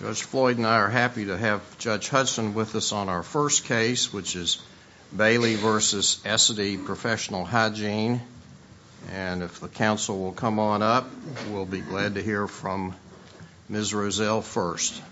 Judge Floyd and I are happy to have Judge Hudson with us on our first case, which is Bailey v. Essity Professional Hygiene, and if the counsel will come on up, we'll be glad to hear from Ms. Rozelle first.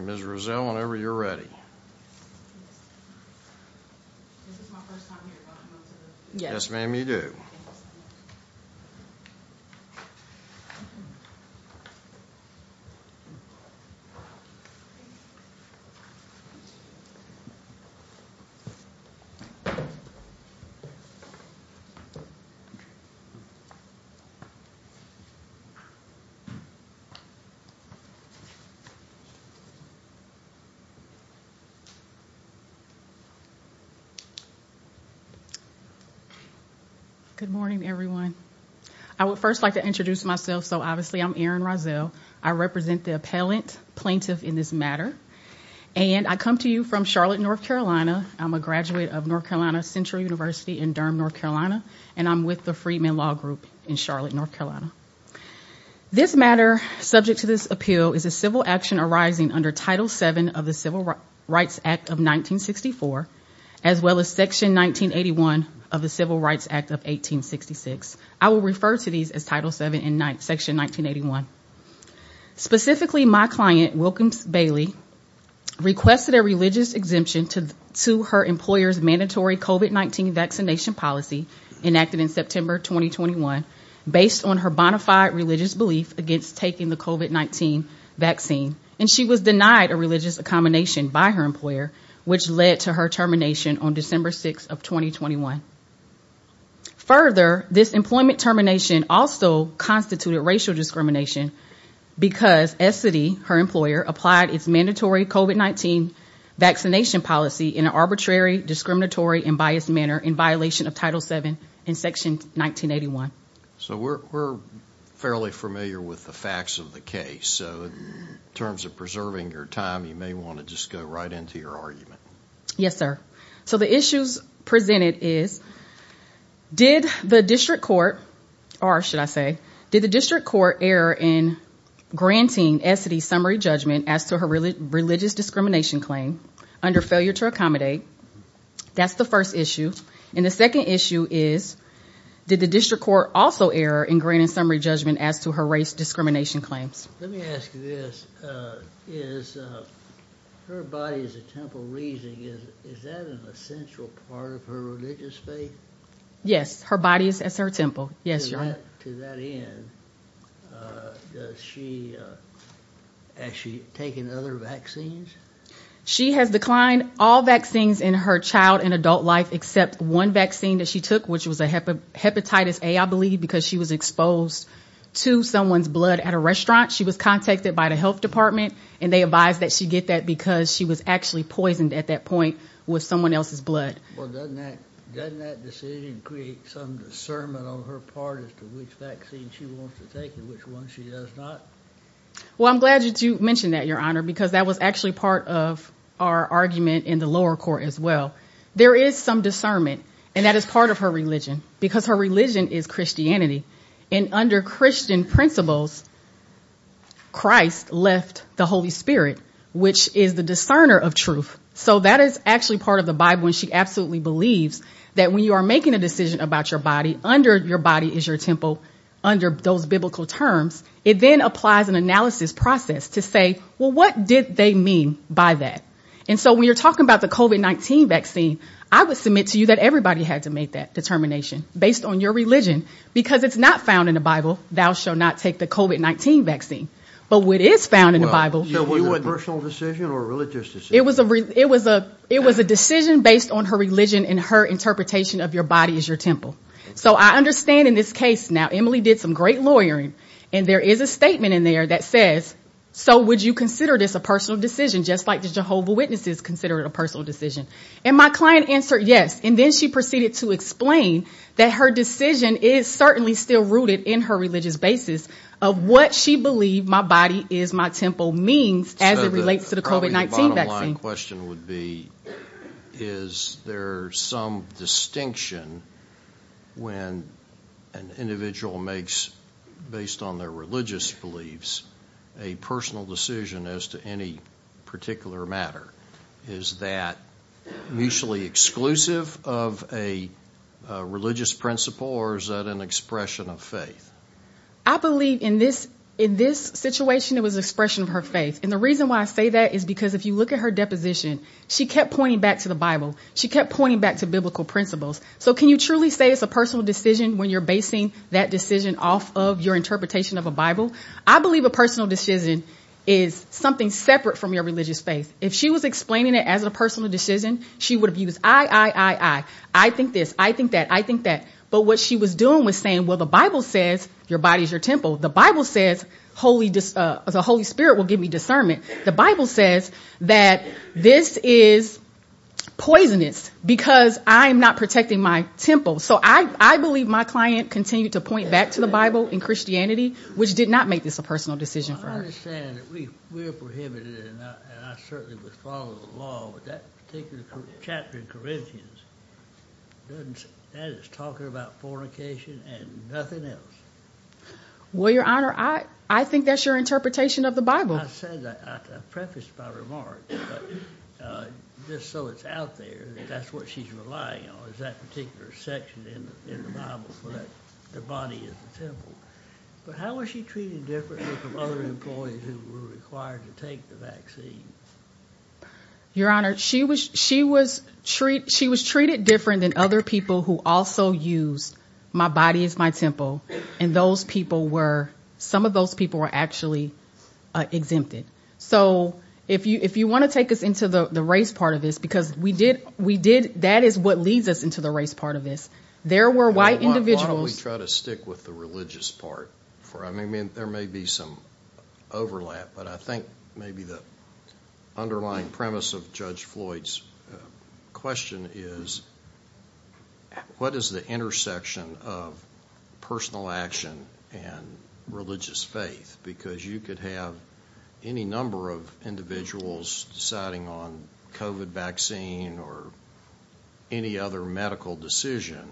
Ms. Rozelle, whenever you're ready. Yes, ma'am, you do. Thank you. Good morning, everyone. I would first like to introduce myself. So, obviously, I'm Erin Rozelle. I represent the appellant plaintiff in this matter, and I come to you from Charlotte, North Carolina. I'm a graduate of North Carolina Central University in Durham, North Carolina, and I'm with the Freeman Law Group in Charlotte, North Carolina. This matter, subject to this appeal, is a civil action arising under Title VII of the Civil Rights Act of 1866. I will refer to these as Title VII in Section 1981. Specifically, my client, Wilkins-Bailey, requested a religious exemption to her employer's mandatory COVID-19 vaccination policy enacted in September 2021 based on her bona fide religious belief against taking the COVID-19 vaccine, and she was denied a religious accommodation by her Further, this employment termination also constituted racial discrimination because Essidy, her employer, applied its mandatory COVID-19 vaccination policy in an arbitrary, discriminatory, and biased manner in violation of Title VII in Section 1981. So, we're fairly familiar with the facts of the case. So, in terms of preserving your time, you may want to just go right into your argument. Yes, sir. So, the issues presented is, did the district court, or should I say, did the district court err in granting Essidy's summary judgment as to her religious discrimination claim under failure to accommodate? That's the first issue. And the second issue is, did the district court also err in granting summary judgment as to her race discrimination claims? Let me ask you this. Is her body as a temple raising, is that an essential part of her religious faith? Yes, her body is as her temple. Yes, Your Honor. To that end, has she taken other vaccines? She has declined all vaccines in her child and adult life except one vaccine that she took, which was Hepatitis A, I believe, because she was exposed to someone's blood at a restaurant. She was contacted by the health department, and they advised that she get that because she was actually poisoned at that point with someone else's blood. Well, doesn't that decision create some discernment on her part as to which vaccine she wants to take and which one she does not? Well, I'm glad that you mentioned that, Your Honor, because that was actually part of our argument in the lower court as well. There is some discernment, and that is part of her religion because her religion is Christianity. And under Christian principles, Christ left the Holy Spirit, which is the discerner of truth. So that is actually part of the Bible, and she absolutely believes that when you are making a decision about your body, under your body is your temple, under those biblical terms. It then applies an analysis process to say, well, what did they mean by that? And so when you're talking about the COVID-19 vaccine, I would submit to you that everybody had to make that determination based on your religion. Because it's not found in the Bible, thou shall not take the COVID-19 vaccine. But what is found in the Bible. So was it a personal decision or a religious decision? It was a decision based on her religion and her interpretation of your body as your temple. So I understand in this case now, Emily did some great lawyering, and there is a statement in there that says, so would you consider this a personal decision, just like the Jehovah Witnesses consider it a personal decision? And my client answered yes. And then she proceeded to explain that her decision is certainly still rooted in her religious basis of what she believed my body is my temple means as it relates to the COVID-19 vaccine. My second question would be, is there some distinction when an individual makes, based on their religious beliefs, a personal decision as to any particular matter? Is that mutually exclusive of a religious principle, or is that an expression of faith? I believe in this situation it was an expression of her faith. And the reason why I say that is because if you look at her deposition, she kept pointing back to the Bible. She kept pointing back to biblical principles. So can you truly say it's a personal decision when you're basing that decision off of your interpretation of a Bible? I believe a personal decision is something separate from your religious faith. If she was explaining it as a personal decision, she would have used I, I, I, I, I think this, I think that, I think that. But what she was doing was saying, well, the Bible says your body is your temple. The Bible says the Holy Spirit will give me discernment. The Bible says that this is poisonous because I'm not protecting my temple. So I believe my client continued to point back to the Bible and Christianity, which did not make this a personal decision for her. I understand that we are prohibited, and I certainly would follow the law, but that particular chapter in Corinthians, that is talking about fornication and nothing else. Well, Your Honor, I think that's your interpretation of the Bible. I said that, I prefaced my remarks, but just so it's out there, that's what she's relying on, is that particular section in the Bible where the body is the temple. But how was she treated differently from other employees who were required to take the vaccine? Your Honor, she was treated different than other people who also used my body is my temple, and those people were, some of those people were actually exempted. So if you want to take us into the race part of this, because we did, that is what leads us into the race part of this. Why don't we try to stick with the religious part? I mean, there may be some overlap, but I think maybe the underlying premise of Judge Floyd's question is, what is the intersection of personal action and religious faith? Because you could have any number of individuals deciding on COVID vaccine or any other medical decision,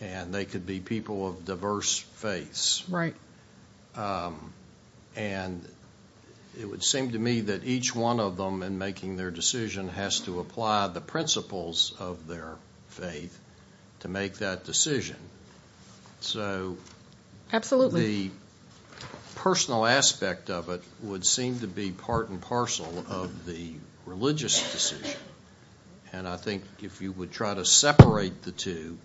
and they could be people of diverse faiths. And it would seem to me that each one of them, in making their decision, has to apply the principles of their faith to make that decision. So the personal aspect of it would seem to be part and parcel of the religious decision. And I think if you would try to separate the two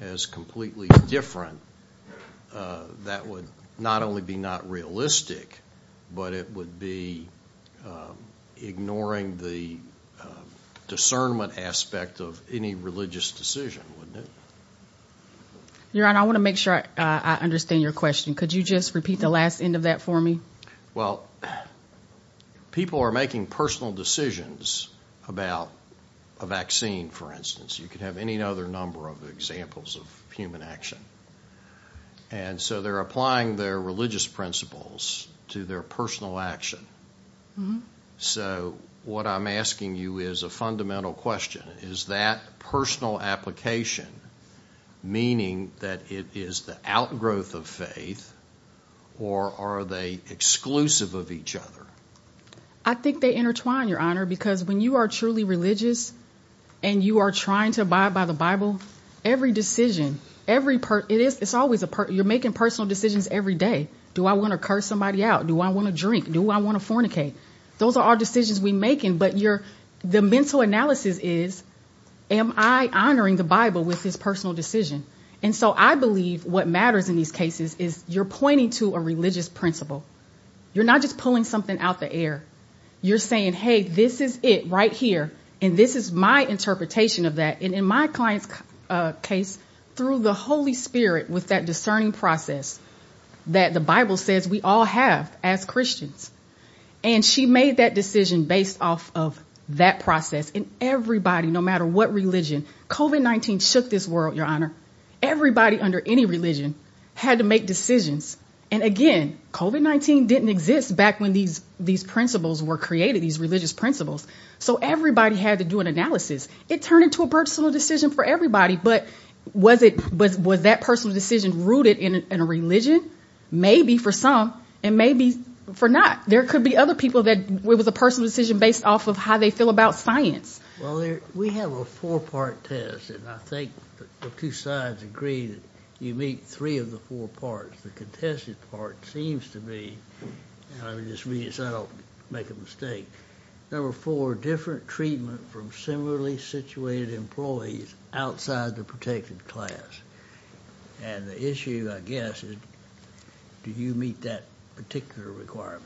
as completely different, that would not only be not realistic, but it would be ignoring the discernment aspect of any religious decision, wouldn't it? Your Honor, I want to make sure I understand your question. Could you just repeat the last end of that for me? Well, people are making personal decisions about a vaccine, for instance. You could have any other number of examples of human action. And so they're applying their religious principles to their personal action. So what I'm asking you is a fundamental question. Is that personal application meaning that it is the outgrowth of faith, or are they exclusive of each other? I think they intertwine, Your Honor, because when you are truly religious and you are trying to abide by the Bible, every decision, you're making personal decisions every day. Do I want to curse somebody out? Do I want to drink? Do I want to fornicate? Those are all decisions we're making, but the mental analysis is, am I honoring the Bible with this personal decision? And so I believe what matters in these cases is you're pointing to a religious principle. You're not just pulling something out the air. You're saying, hey, this is it right here, and this is my interpretation of that. And in my client's case, through the Holy Spirit, with that discerning process that the Bible says we all have as Christians. And she made that decision based off of that process. And everybody, no matter what religion, COVID-19 shook this world, Your Honor. Everybody under any religion had to make decisions. And again, COVID-19 didn't exist back when these principles were created, these religious principles. So everybody had to do an analysis. It turned into a personal decision for everybody, but was that personal decision rooted in a religion? Maybe for some, and maybe for not. There could be other people that it was a personal decision based off of how they feel about science. Well, we have a four-part test, and I think the two sides agree that you meet three of the four parts. The contested part seems to be, and I'll just read it so I don't make a mistake. Number four, different treatment from similarly situated employees outside the protected class. And the issue, I guess, is do you meet that particular requirement?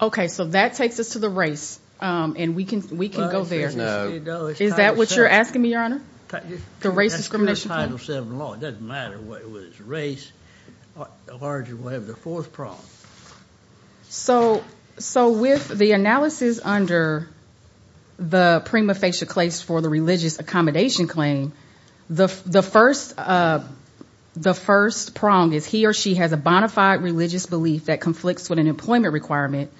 Okay, so that takes us to the race, and we can go there. No. Is that what you're asking me, Your Honor, the race discrimination? It doesn't matter what it was, race. Largely, we'll have the fourth prong. So with the analysis under the prima facie case for the religious accommodation claim, the first prong is he or she has a bona fide religious belief that conflicts with an employment requirement.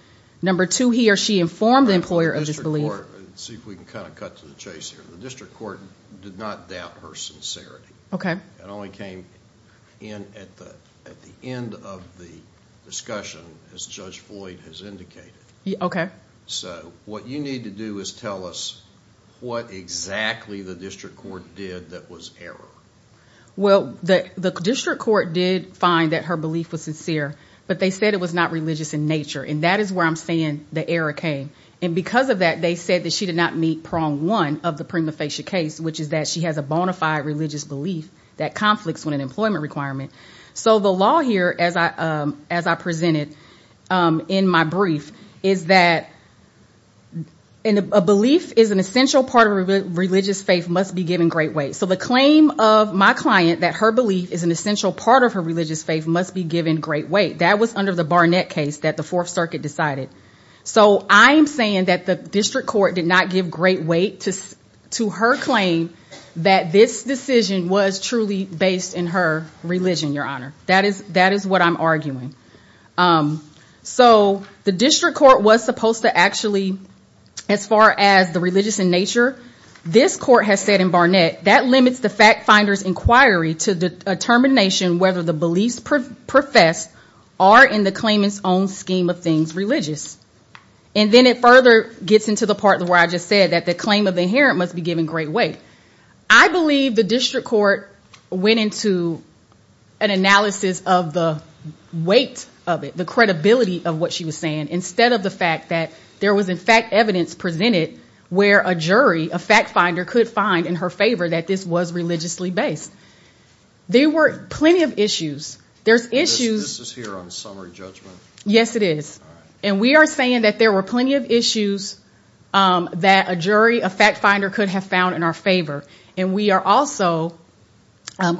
Number two, he or she informed the employer of this belief. Let's see if we can kind of cut to the chase here. The district court did not doubt her sincerity. It only came in at the end of the discussion, as Judge Floyd has indicated. Okay. So what you need to do is tell us what exactly the district court did that was error. Well, the district court did find that her belief was sincere, but they said it was not religious in nature, and that is where I'm saying the error came. And because of that, they said that she did not meet prong one of the prima facie case, which is that she has a bona fide religious belief that conflicts with an employment requirement. So the law here, as I presented in my brief, is that a belief is an essential part of a religious faith must be given great weight. So the claim of my client that her belief is an essential part of her religious faith must be given great weight. That was under the Barnett case that the Fourth Circuit decided. So I'm saying that the district court did not give great weight to her claim that this decision was truly based in her religion, Your Honor. That is what I'm arguing. So the district court was supposed to actually, as far as the religious in nature, this court has said in Barnett, that that limits the fact finder's inquiry to the determination whether the beliefs professed are in the claimant's own scheme of things religious. And then it further gets into the part where I just said that the claim of the inherent must be given great weight. I believe the district court went into an analysis of the weight of it, the credibility of what she was saying, instead of the fact that there was, in fact, evidence presented where a jury, a fact finder, could find in her favor that this was religiously based. There were plenty of issues. There's issues. This is here on summary judgment. Yes, it is. And we are saying that there were plenty of issues that a jury, a fact finder, could have found in our favor. And we are also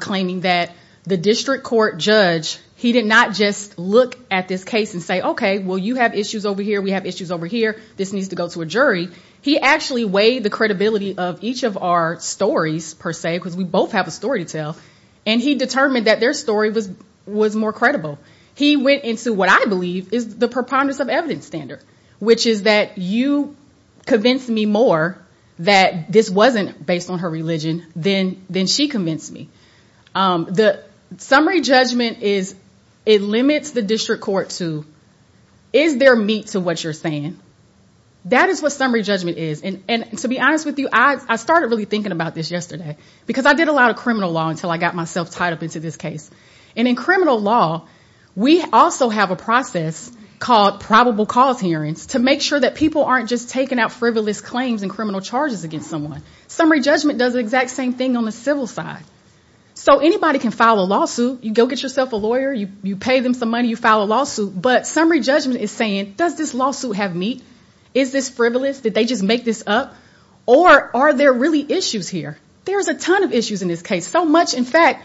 claiming that the district court judge, he did not just look at this case and say, okay, well, you have issues over here. We have issues over here. This needs to go to a jury. He actually weighed the credibility of each of our stories, per se, because we both have a story to tell, and he determined that their story was more credible. He went into what I believe is the preponderance of evidence standard, which is that you convinced me more that this wasn't based on her religion than she convinced me. The summary judgment is it limits the district court to is there meat to what you're saying? That is what summary judgment is. And to be honest with you, I started really thinking about this yesterday because I did a lot of criminal law until I got myself tied up into this case. And in criminal law, we also have a process called probable cause hearings to make sure that people aren't just taking out frivolous claims and criminal charges against someone. Summary judgment does the exact same thing on the civil side. So anybody can file a lawsuit. You go get yourself a lawyer. You pay them some money. You file a lawsuit. But summary judgment is saying, does this lawsuit have meat? Is this frivolous? Did they just make this up? Or are there really issues here? There's a ton of issues in this case. So much, in fact,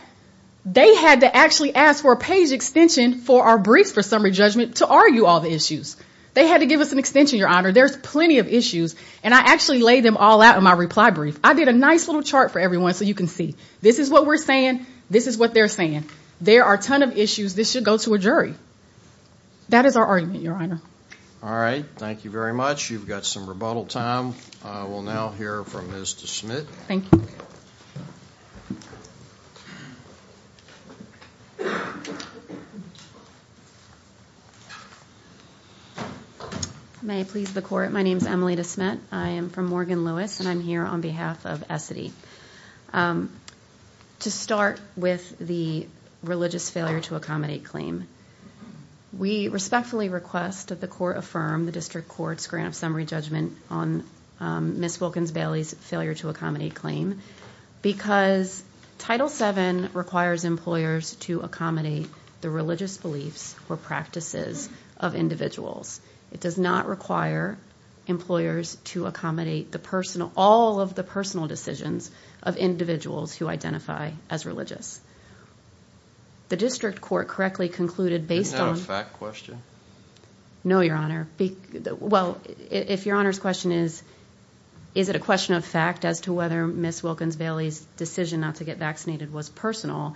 they had to actually ask for a page extension for our briefs for summary judgment to argue all the issues. They had to give us an extension, Your Honor. There's plenty of issues. And I actually laid them all out in my reply brief. I did a nice little chart for everyone so you can see. This is what we're saying. This is what they're saying. There are a ton of issues. This should go to a jury. That is our argument, Your Honor. All right. Thank you very much. You've got some rebuttal time. We'll now hear from Ms. DeSmit. Thank you. May I please the court? My name is Emily DeSmit. I am from Morgan Lewis, and I'm here on behalf of Essity. To start with the religious failure to accommodate claim, we respectfully request that the court affirm the district court's grant of summary judgment on Ms. Wilkins-Bailey's failure to accommodate claim because Title VII requires employers to accommodate the religious beliefs or practices of individuals. It does not require employers to accommodate all of the personal decisions of individuals who identify as religious. The district court correctly concluded based on- Isn't that a fact question? No, Your Honor. Well, if Your Honor's question is, is it a question of fact as to whether Ms. Wilkins-Bailey's decision not to get vaccinated was personal,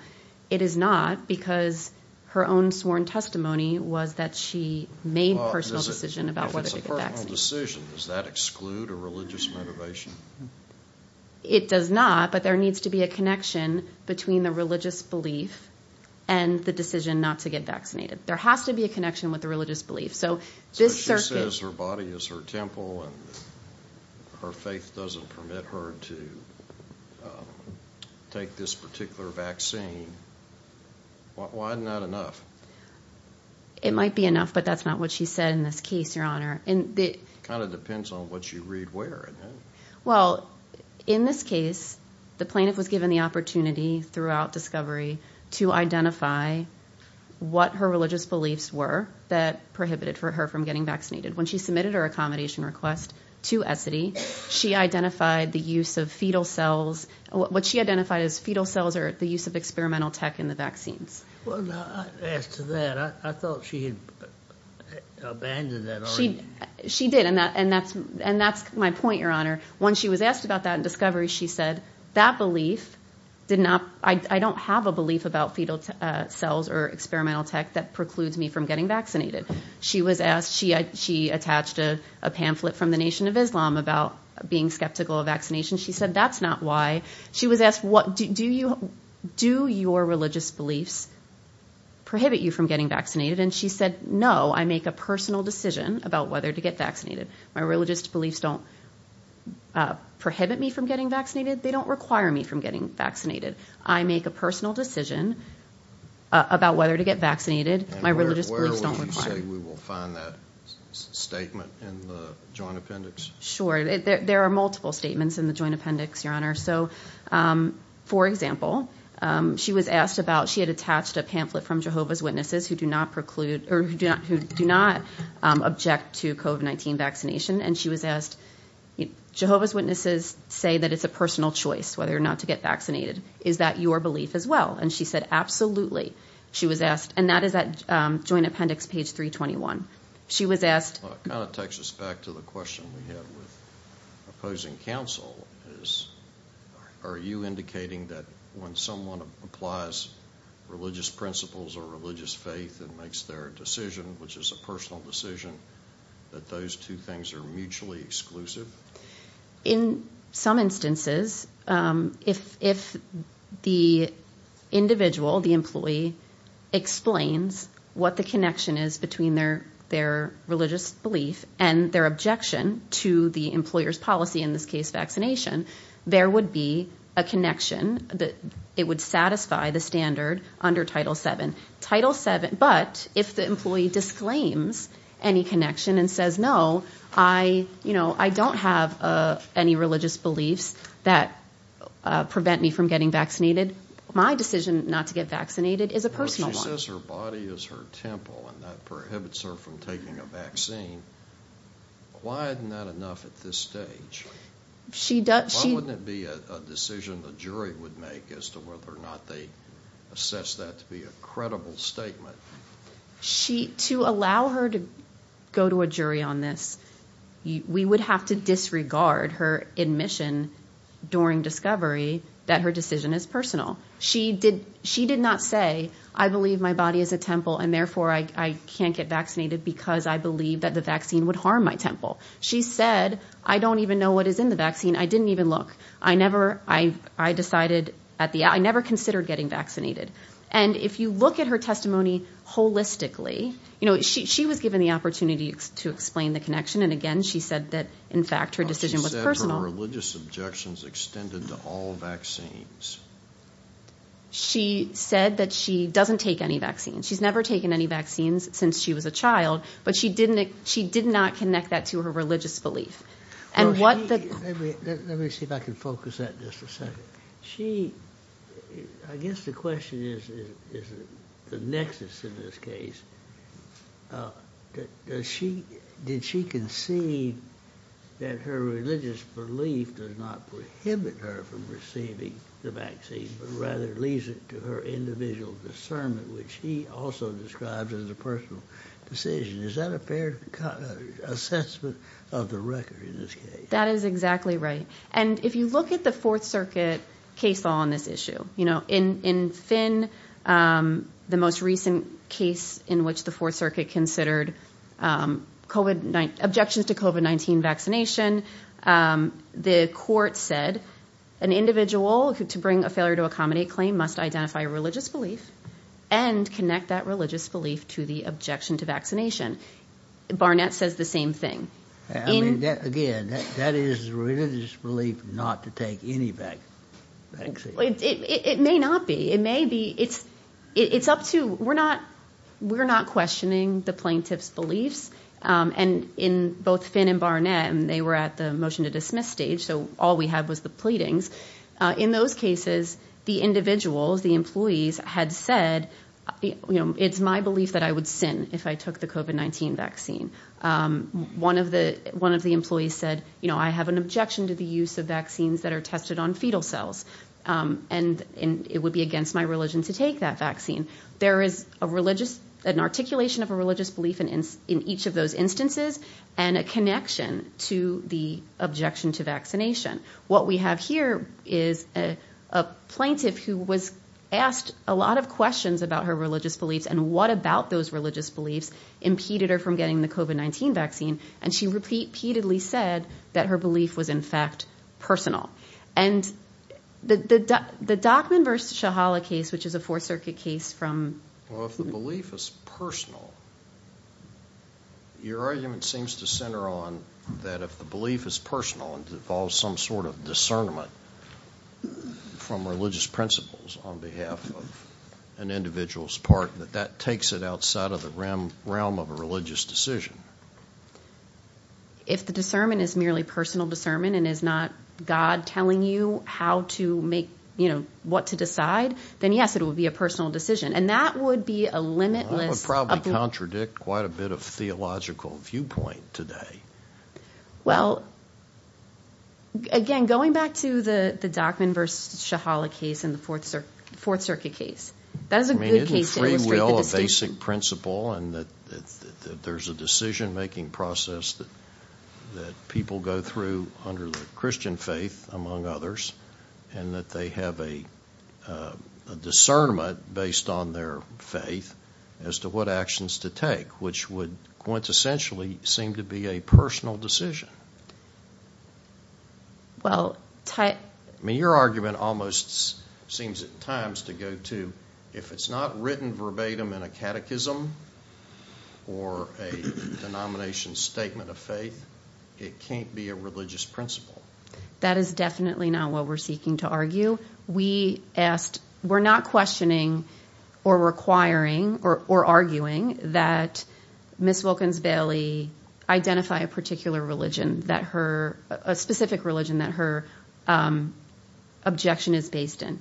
it is not because her own sworn testimony was that she made a personal decision about whether to get vaccinated. Well, if it's a personal decision, does that exclude a religious motivation? It does not, but there needs to be a connection between the religious belief and the decision not to get vaccinated. There has to be a connection with the religious belief, so this circuit- She says her body is her temple and her faith doesn't permit her to take this particular vaccine. Why not enough? It might be enough, but that's not what she said in this case, Your Honor. It kind of depends on what you read where. Well, in this case, the plaintiff was given the opportunity throughout discovery to identify what her religious beliefs were that prohibited her from getting vaccinated. When she submitted her accommodation request to Essity, she identified the use of fetal cells- What she identified as fetal cells are the use of experimental tech in the vaccines. Well, after that, I thought she had abandoned that already. She did, and that's my point, Your Honor. When she was asked about that in discovery, she said that belief did not- I don't have a belief about fetal cells or experimental tech that precludes me from getting vaccinated. She was asked- she attached a pamphlet from the Nation of Islam about being skeptical of vaccination. She said that's not why. She was asked, do your religious beliefs prohibit you from getting vaccinated? And she said, no, I make a personal decision about whether to get vaccinated. My religious beliefs don't prohibit me from getting vaccinated. They don't require me from getting vaccinated. I make a personal decision about whether to get vaccinated. My religious beliefs don't require- And where would you say we will find that statement in the joint appendix? Sure. There are multiple statements in the joint appendix, Your Honor. So, for example, she was asked about- she had attached a pamphlet from Jehovah's Witnesses who do not preclude- or who do not object to COVID-19 vaccination. And she was asked, Jehovah's Witnesses say that it's a personal choice whether or not to get vaccinated. Is that your belief as well? And she said, absolutely. She was asked- and that is that joint appendix, page 321. She was asked- It kind of takes us back to the question we had with opposing counsel. Are you indicating that when someone applies religious principles or religious faith and makes their decision, which is a personal decision, that those two things are mutually exclusive? In some instances, if the individual, the employee, explains what the connection is between their religious belief and their objection to the employer's policy, in this case, vaccination, there would be a connection that it would satisfy the standard under Title VII. Title VII- But if the employee disclaims any connection and says, no, I don't have any religious beliefs that prevent me from getting vaccinated, my decision not to get vaccinated is a personal one. She says her body is her temple and that prohibits her from taking a vaccine. Why isn't that enough at this stage? Why wouldn't it be a decision the jury would make as to whether or not they assess that to be a credible statement? To allow her to go to a jury on this, we would have to disregard her admission during discovery that her decision is personal. She did not say, I believe my body is a temple and, therefore, I can't get vaccinated because I believe that the vaccine would harm my temple. She said, I don't even know what is in the vaccine. I didn't even look. I never considered getting vaccinated. And if you look at her testimony holistically, she was given the opportunity to explain the connection, and, again, she said that, in fact, her decision was personal. She said her religious objections extended to all vaccines. She said that she doesn't take any vaccines. She's never taken any vaccines since she was a child, but she did not connect that to her religious belief. Let me see if I can focus that just a second. I guess the question is the nexus in this case. Did she concede that her religious belief does not prohibit her from receiving the vaccine, but rather leaves it to her individual discernment, which she also describes as a personal decision? Is that a fair assessment of the record in this case? That is exactly right. And if you look at the Fourth Circuit case law on this issue, in Finn, the most recent case in which the Fourth Circuit considered objections to COVID-19 vaccination, the court said an individual to bring a failure to accommodate claim must identify a religious belief and connect that religious belief to the objection to vaccination. Barnett says the same thing. Again, that is religious belief not to take any vaccine. It may not be. It may be. It's up to—we're not questioning the plaintiff's beliefs. And in both Finn and Barnett, they were at the motion to dismiss stage, so all we had was the pleadings. In those cases, the individuals, the employees, had said, you know, it's my belief that I would sin if I took the COVID-19 vaccine. One of the employees said, you know, I have an objection to the use of vaccines that are tested on fetal cells, and it would be against my religion to take that vaccine. There is a religious—an articulation of a religious belief in each of those instances and a connection to the objection to vaccination. What we have here is a plaintiff who was asked a lot of questions about her religious beliefs and what about those religious beliefs impeded her from getting the COVID-19 vaccine, and she repeatedly said that her belief was, in fact, personal. And the Dockman v. Shahala case, which is a Fourth Circuit case from— Well, if the belief is personal, your argument seems to center on that if the belief is personal and involves some sort of discernment from religious principles on behalf of an individual's part, that that takes it outside of the realm of a religious decision. If the discernment is merely personal discernment and is not God telling you how to make, you know, what to decide, then yes, it would be a personal decision. And that would be a limitless— That would probably contradict quite a bit of theological viewpoint today. Well, again, going back to the Dockman v. Shahala case and the Fourth Circuit case, that is a good case to illustrate the distinction. I mean, isn't free will a basic principle and that there's a decision-making process that people go through under the Christian faith, among others, and that they have a discernment based on their faith as to what actions to take, which would quintessentially seem to be a personal decision? Well, Ty— I mean, your argument almost seems at times to go to if it's not written verbatim in a catechism or a denomination statement of faith, it can't be a religious principle. That is definitely not what we're seeking to argue. We asked—we're not questioning or requiring or arguing that Ms. Wilkins-Bailey identify a particular religion that her— a specific religion that her objection is based in.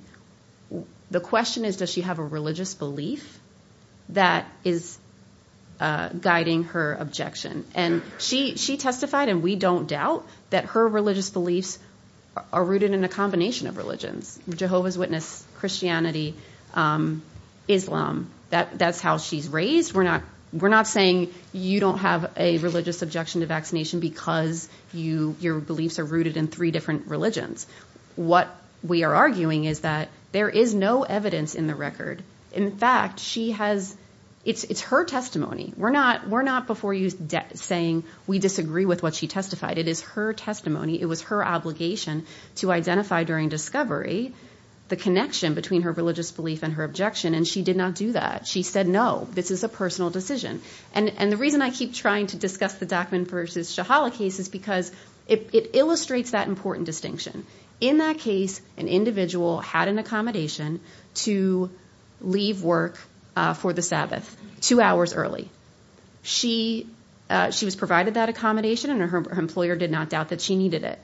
The question is, does she have a religious belief that is guiding her objection? And she testified, and we don't doubt, that her religious beliefs are rooted in a combination of religions— Jehovah's Witness, Christianity, Islam. That's how she's raised. We're not saying you don't have a religious objection to vaccination because your beliefs are rooted in three different religions. What we are arguing is that there is no evidence in the record. In fact, she has—it's her testimony. We're not before you saying we disagree with what she testified. It is her testimony. It was her obligation to identify during discovery the connection between her religious belief and her objection, and she did not do that. She said, no, this is a personal decision. And the reason I keep trying to discuss the Dockman v. Shahala case is because it illustrates that important distinction. In that case, an individual had an accommodation to leave work for the Sabbath two hours early. She was provided that accommodation, and her employer did not doubt that she needed it.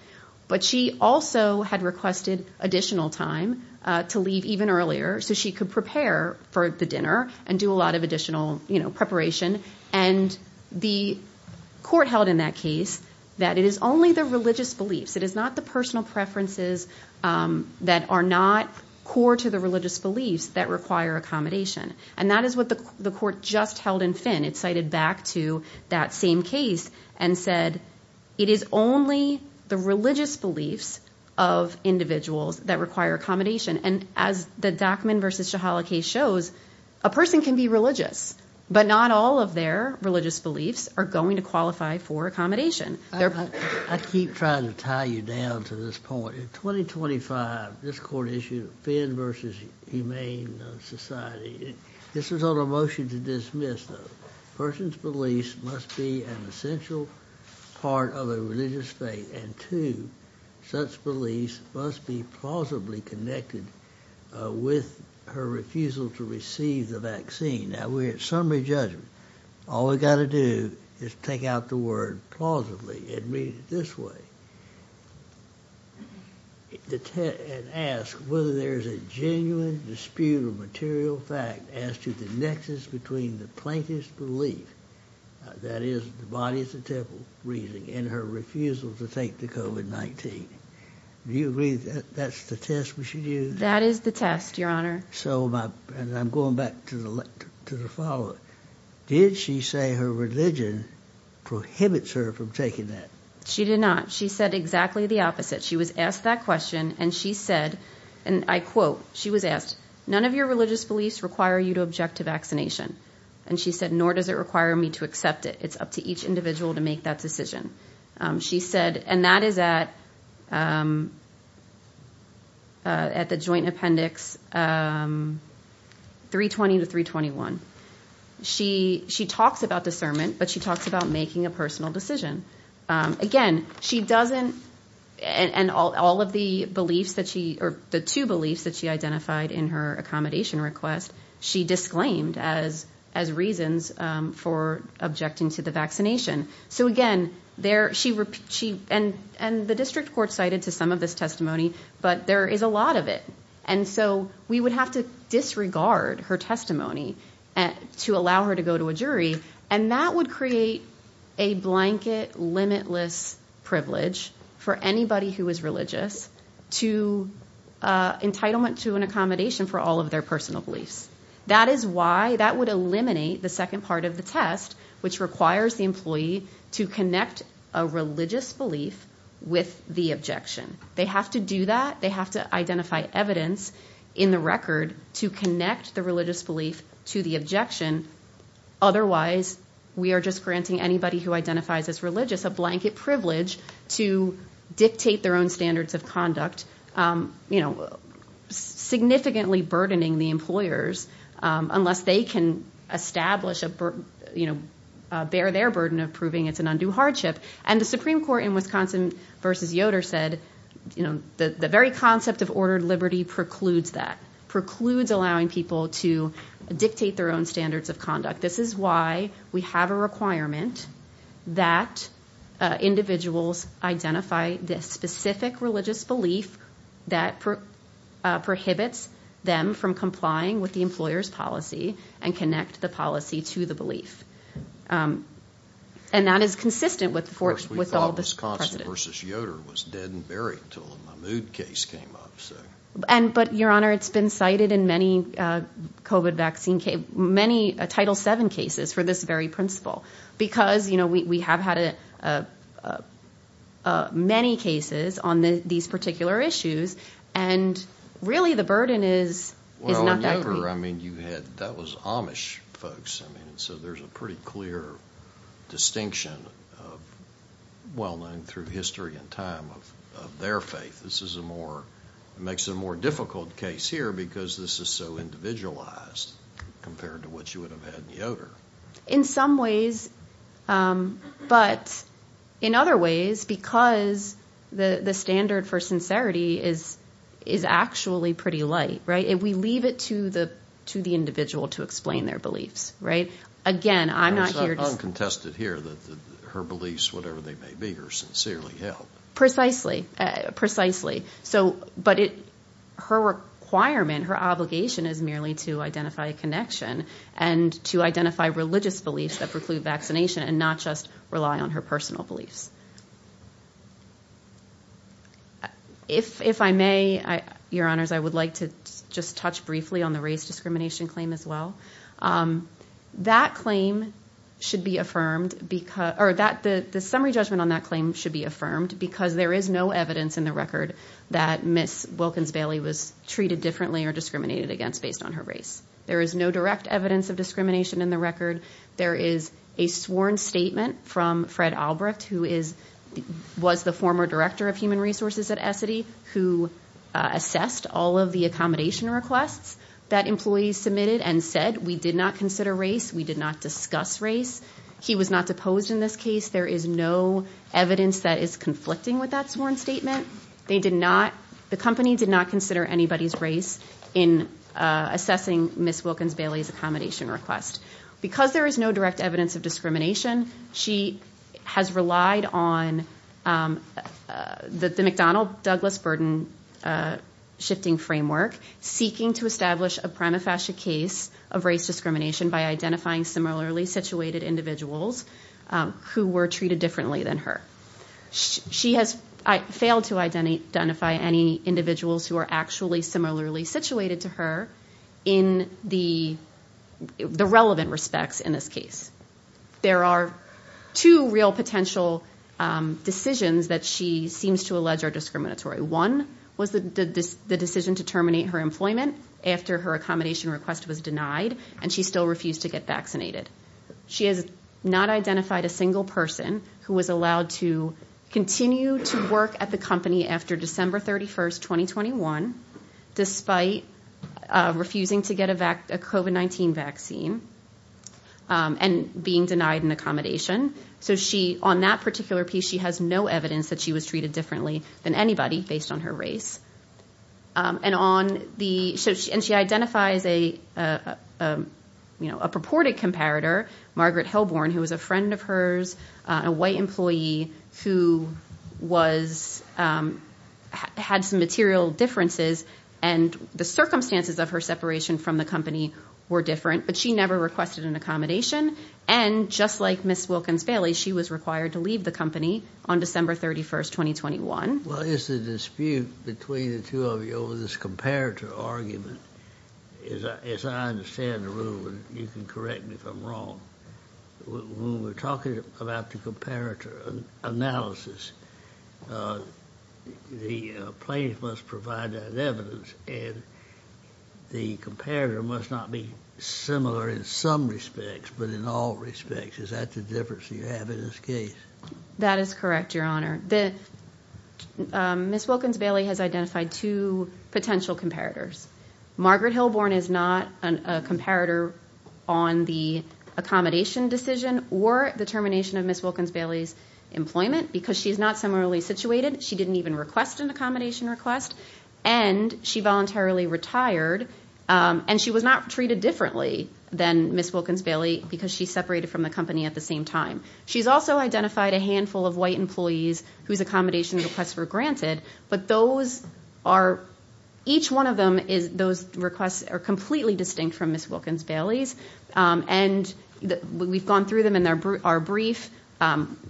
But she also had requested additional time to leave even earlier so she could prepare for the dinner and do a lot of additional preparation. And the court held in that case that it is only the religious beliefs, it is not the personal preferences that are not core to the religious beliefs that require accommodation. And that is what the court just held in Finn. It cited back to that same case and said it is only the religious beliefs of individuals that require accommodation. And as the Dockman v. Shahala case shows, a person can be religious, but not all of their religious beliefs are going to qualify for accommodation. I keep trying to tie you down to this point. In 2025, this court issued Finn v. Humane Society. This was on a motion to dismiss, though. A person's beliefs must be an essential part of a religious faith, and two, such beliefs must be plausibly connected with her refusal to receive the vaccine. Now, we're at summary judgment. All we've got to do is take out the word plausibly and read it this way and ask whether there's a genuine dispute or material fact as to the nexus between the plaintiff's belief, that is, the body is the temple, and her refusal to take the COVID-19. Do you agree that that's the test we should use? That is the test, Your Honor. And I'm going back to the follow-up. Did she say her religion prohibits her from taking that? She did not. She said exactly the opposite. She was asked that question, and she said, and I quote, she was asked, none of your religious beliefs require you to object to vaccination. And she said, nor does it require me to accept it. It's up to each individual to make that decision. She said, and that is at the joint appendix 320 to 321. She talks about discernment, but she talks about making a personal decision. Again, she doesn't, and all of the beliefs that she, or the two beliefs that she identified in her accommodation request, she disclaimed as reasons for objecting to the vaccination. So again, and the district court cited to some of this testimony, but there is a lot of it. And so we would have to disregard her testimony to allow her to go to a jury, and that would create a blanket, limitless privilege for anybody who is religious to entitlement to an accommodation for all of their personal beliefs. That is why that would eliminate the second part of the test, which requires the employee to connect a religious belief with the objection. They have to do that. They have to identify evidence in the record to connect the religious belief to the objection. Otherwise, we are just granting anybody who identifies as religious a blanket privilege to dictate their own standards of conduct, significantly burdening the employers unless they can establish a burden, bear their burden of proving it's an undue hardship. And the Supreme Court in Wisconsin v. Yoder said the very concept of ordered liberty precludes that, precludes allowing people to dictate their own standards of conduct. This is why we have a requirement that individuals identify the specific religious belief that prohibits them from complying with the employer's policy and connect the policy to the belief. And that is consistent with all this precedent. At first we thought Wisconsin v. Yoder was dead and buried until the Mahmood case came up. But, Your Honor, it's been cited in many Title VII cases for this very principle because we have had many cases on these particular issues, and really the burden is not that great. Well, in Yoder, that was Amish folks, so there's a pretty clear distinction, well known through history and time, of their faith. This is a more, makes it a more difficult case here because this is so individualized compared to what you would have had in Yoder. In some ways, but in other ways, because the standard for sincerity is actually pretty light, right? We leave it to the individual to explain their beliefs, right? Again, I'm not here to... It's not uncontested here that her beliefs, whatever they may be, are sincerely held. Precisely, precisely. But her requirement, her obligation is merely to identify a connection and to identify religious beliefs that preclude vaccination and not just rely on her personal beliefs. If I may, Your Honors, I would like to just touch briefly on the race discrimination claim as well. That claim should be affirmed because, or the summary judgment on that claim should be affirmed because there is no evidence in the record that Ms. Wilkins-Bailey was treated differently or discriminated against based on her race. There is no direct evidence of discrimination in the record. There is a sworn statement from Fred Albrecht, who was the former director of human resources at Essity, who assessed all of the accommodation requests that employees submitted and said, we did not consider race, we did not discuss race. He was not deposed in this case. There is no evidence that is conflicting with that sworn statement. They did not, the company did not consider anybody's race in assessing Ms. Wilkins-Bailey's accommodation request. Because there is no direct evidence of discrimination, she has relied on the McDonnell-Douglas burden shifting framework, seeking to establish a prima facie case of race discrimination by identifying similarly situated individuals who were treated differently than her. She has failed to identify any individuals who are actually similarly situated to her in the relevant respects in this case. There are two real potential decisions that she seems to allege are discriminatory. One was the decision to terminate her employment after her accommodation request was denied and she still refused to get vaccinated. She has not identified a single person who was allowed to continue to work at the company after December 31st, 2021, despite refusing to get a COVID-19 vaccine and being denied an accommodation. On that particular piece, she has no evidence that she was treated differently than anybody based on her race. She identifies a purported comparator, Margaret Helborn, who was a friend of hers, a white employee who had some material differences and the circumstances of her separation from the company were different, but she never requested an accommodation. And just like Ms. Wilkins-Bailey, she was required to leave the company on December 31st, 2021. Well, it's a dispute between the two of you over this comparator argument. As I understand the rule, and you can correct me if I'm wrong, when we're talking about the comparator analysis, the plaintiff must provide that evidence and the comparator must not be similar in some respects, but in all respects. Is that the difference you have in this case? That is correct, Your Honor. Ms. Wilkins-Bailey has identified two potential comparators. Margaret Helborn is not a comparator on the accommodation decision or the termination of Ms. Wilkins-Bailey's employment because she's not similarly situated. She didn't even request an accommodation request and she voluntarily retired and she was not treated differently than Ms. Wilkins-Bailey because she separated from the company at the same time. She's also identified a handful of white employees whose accommodation requests were granted, but each one of those requests are completely distinct from Ms. Wilkins-Bailey's. And we've gone through them in our brief.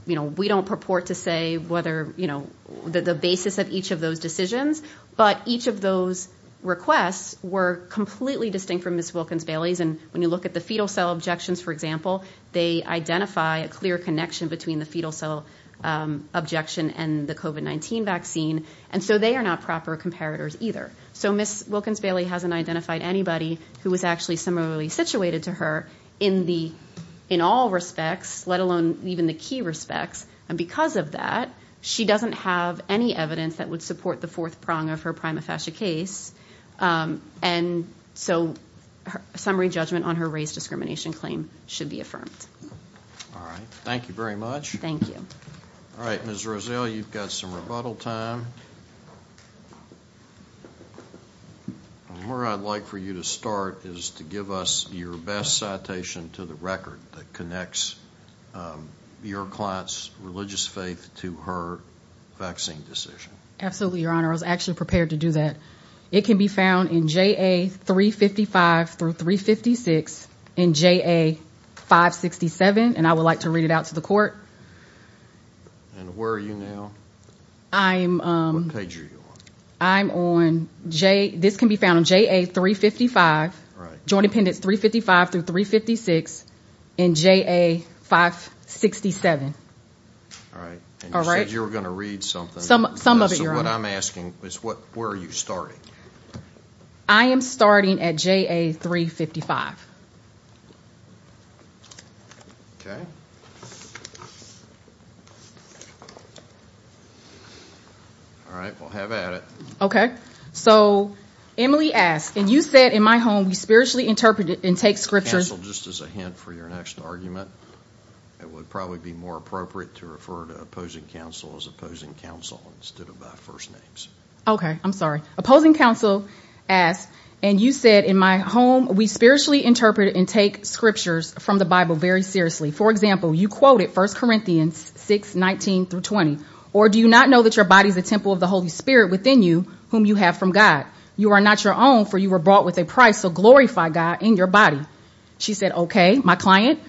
We don't purport to say the basis of each of those decisions, but each of those requests were completely distinct from Ms. Wilkins-Bailey's. And when you look at the fetal cell objections, for example, they identify a clear connection between the fetal cell objection and the COVID-19 vaccine, and so they are not proper comparators either. So Ms. Wilkins-Bailey hasn't identified anybody who is actually similarly situated to her in all respects, let alone even the key respects, and because of that, she doesn't have any evidence that would support the fourth prong of her prima facie case. And so a summary judgment on her race discrimination claim should be affirmed. All right. Thank you very much. Thank you. All right. Ms. Rozelle, you've got some rebuttal time. Where I'd like for you to start is to give us your best citation to the record that connects your client's religious faith to her vaccine decision. Absolutely, Your Honor. I was actually prepared to do that. It can be found in JA 355 through 356 in JA 567, and I would like to read it out to the court. And where are you now? What page are you on? I'm on – this can be found on JA 355, Joint Appendix 355 through 356 in JA 567. All right. And you said you were going to read something. Some of it, Your Honor. So what I'm asking is where are you starting? I am starting at JA 355. Okay. All right. Well, have at it. So Emily asks, and you said in my home we spiritually interpret and take scriptures. Counsel, just as a hint for your next argument, it would probably be more appropriate to refer to opposing counsel as opposing counsel instead of by first names. Okay. I'm sorry. Opposing counsel asks, and you said in my home we spiritually interpret and take scriptures from the Bible very seriously. For example, you quoted 1 Corinthians 6, 19 through 20. Or do you not know that your body is a temple of the Holy Spirit within you whom you have from God? You are not your own, for you were brought with a price, so glorify God in your body. She said, okay, my client.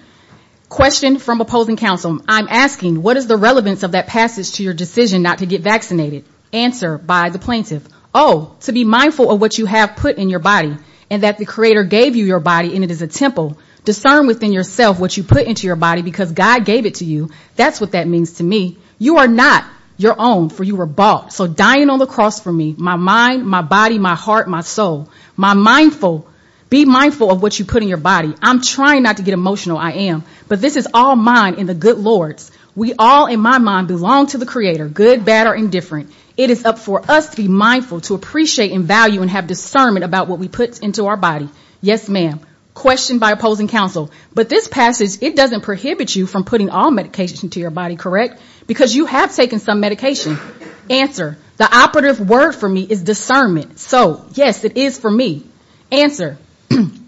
Question from opposing counsel. I'm asking, what is the relevance of that passage to your decision not to get vaccinated? Answer by the plaintiff. Oh, to be mindful of what you have put in your body and that the Creator gave you your body and it is a temple. Discern within yourself what you put into your body because God gave it to you. That's what that means to me. You are not your own, for you were bought. So dying on the cross for me, my mind, my body, my heart, my soul, my mindful. Be mindful of what you put in your body. I'm trying not to get emotional. I am. But this is all mine in the good Lord's. We all, in my mind, belong to the Creator, good, bad or indifferent. It is up for us to be mindful, to appreciate and value and have discernment about what we put into our body. Yes, ma'am. Question by opposing counsel. But this passage, it doesn't prohibit you from putting all medications into your body, correct? Because you have taken some medication. The operative word for me is discernment. So, yes, it is for me. Answer.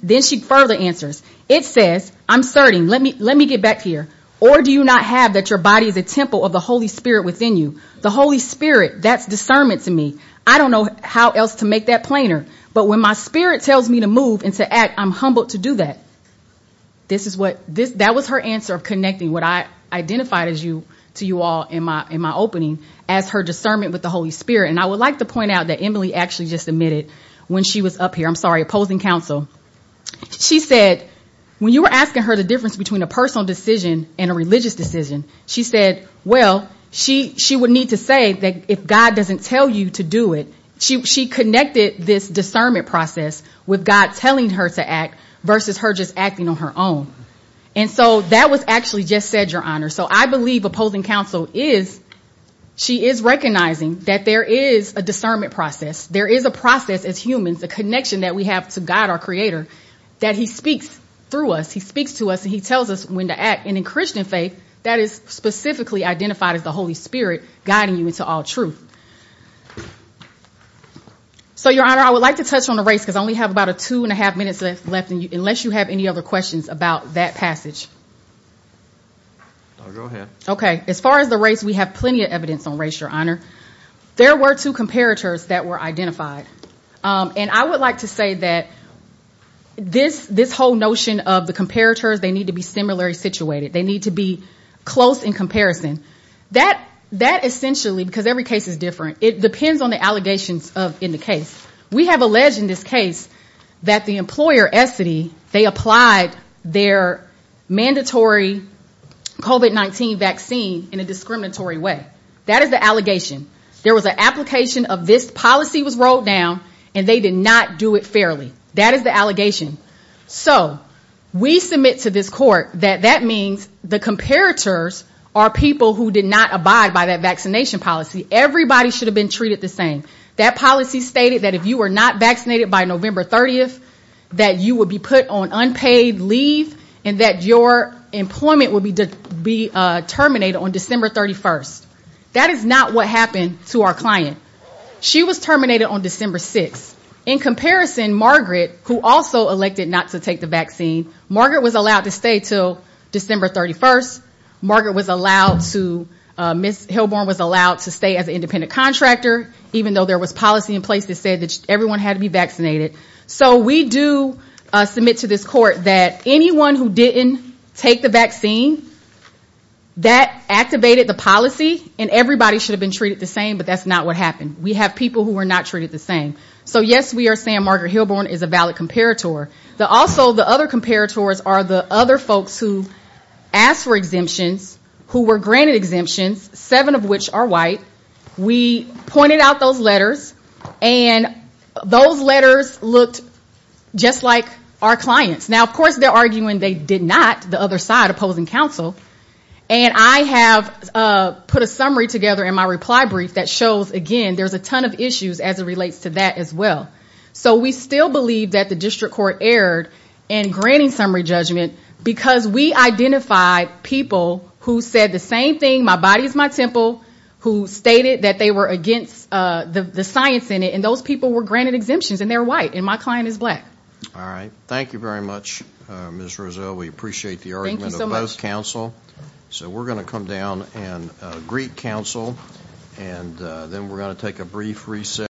Then she further answers. It says, I'm starting. Let me get back here. Or do you not have that your body is a temple of the Holy Spirit within you? The Holy Spirit, that's discernment to me. I don't know how else to make that plainer. But when my spirit tells me to move and to act, I'm humbled to do that. That was her answer of connecting what I identified to you all in my opening as her discernment with the Holy Spirit. And I would like to point out that Emily actually just admitted when she was up here. I'm sorry. Opposing counsel. She said, when you were asking her the difference between a personal decision and a religious decision, she said, well, she would need to say that if God doesn't tell you to do it, she connected this discernment process with God telling her to act versus her just acting on her own. And so that was actually just said, Your Honor. So I believe opposing counsel is she is recognizing that there is a discernment process. There is a process as humans, a connection that we have to God, our creator, that he speaks through us. He speaks to us and he tells us when to act. And in Christian faith, that is specifically identified as the Holy Spirit guiding you into all truth. So, Your Honor, I would like to touch on the race because I only have about a two and a half minutes left, unless you have any other questions about that passage. OK, as far as the race, we have plenty of evidence on race, Your Honor. There were two comparators that were identified. And I would like to say that this whole notion of the comparators, they need to be similarly situated. They need to be close in comparison. That essentially, because every case is different, it depends on the allegations in the case. We have alleged in this case that the employer, Estedy, they applied their mandatory COVID-19 vaccine in a discriminatory way. That is the allegation. There was an application of this policy was rolled down and they did not do it fairly. That is the allegation. So, we submit to this court that that means the comparators are people who did not abide by that vaccination policy. Everybody should have been treated the same. That policy stated that if you were not vaccinated by November 30th, that you would be put on unpaid leave and that your employment would be terminated on December 31st. That is not what happened to our client. She was terminated on December 6th. In comparison, Margaret, who also elected not to take the vaccine, Margaret was allowed to stay until December 31st. Margaret was allowed to, Ms. Hilborn was allowed to stay as an independent contractor, even though there was policy in place that said that everyone had to be vaccinated. So, we do submit to this court that anyone who didn't take the vaccine, that activated the policy, that is not what happened to our client. And everybody should have been treated the same, but that is not what happened. We have people who were not treated the same. So, yes, we are saying Margaret Hilborn is a valid comparator. Also, the other comparators are the other folks who asked for exemptions, who were granted exemptions, seven of which are white. We pointed out those letters and those letters looked just like our clients. Now, of course, they are arguing they did not, the other side opposing counsel. And I have put a summary together in my reply brief that shows, again, there's a ton of issues as it relates to that as well. So, we still believe that the district court erred in granting summary judgment because we identified people who said the same thing, my body is my temple, who stated that they were against the science in it, and those people were granted exemptions, and they're white, and my client is black. All right. Thank you very much, Ms. Roselle. We appreciate the argument of both counsel. So, we're going to come down and greet counsel, and then we're going to take a brief recess.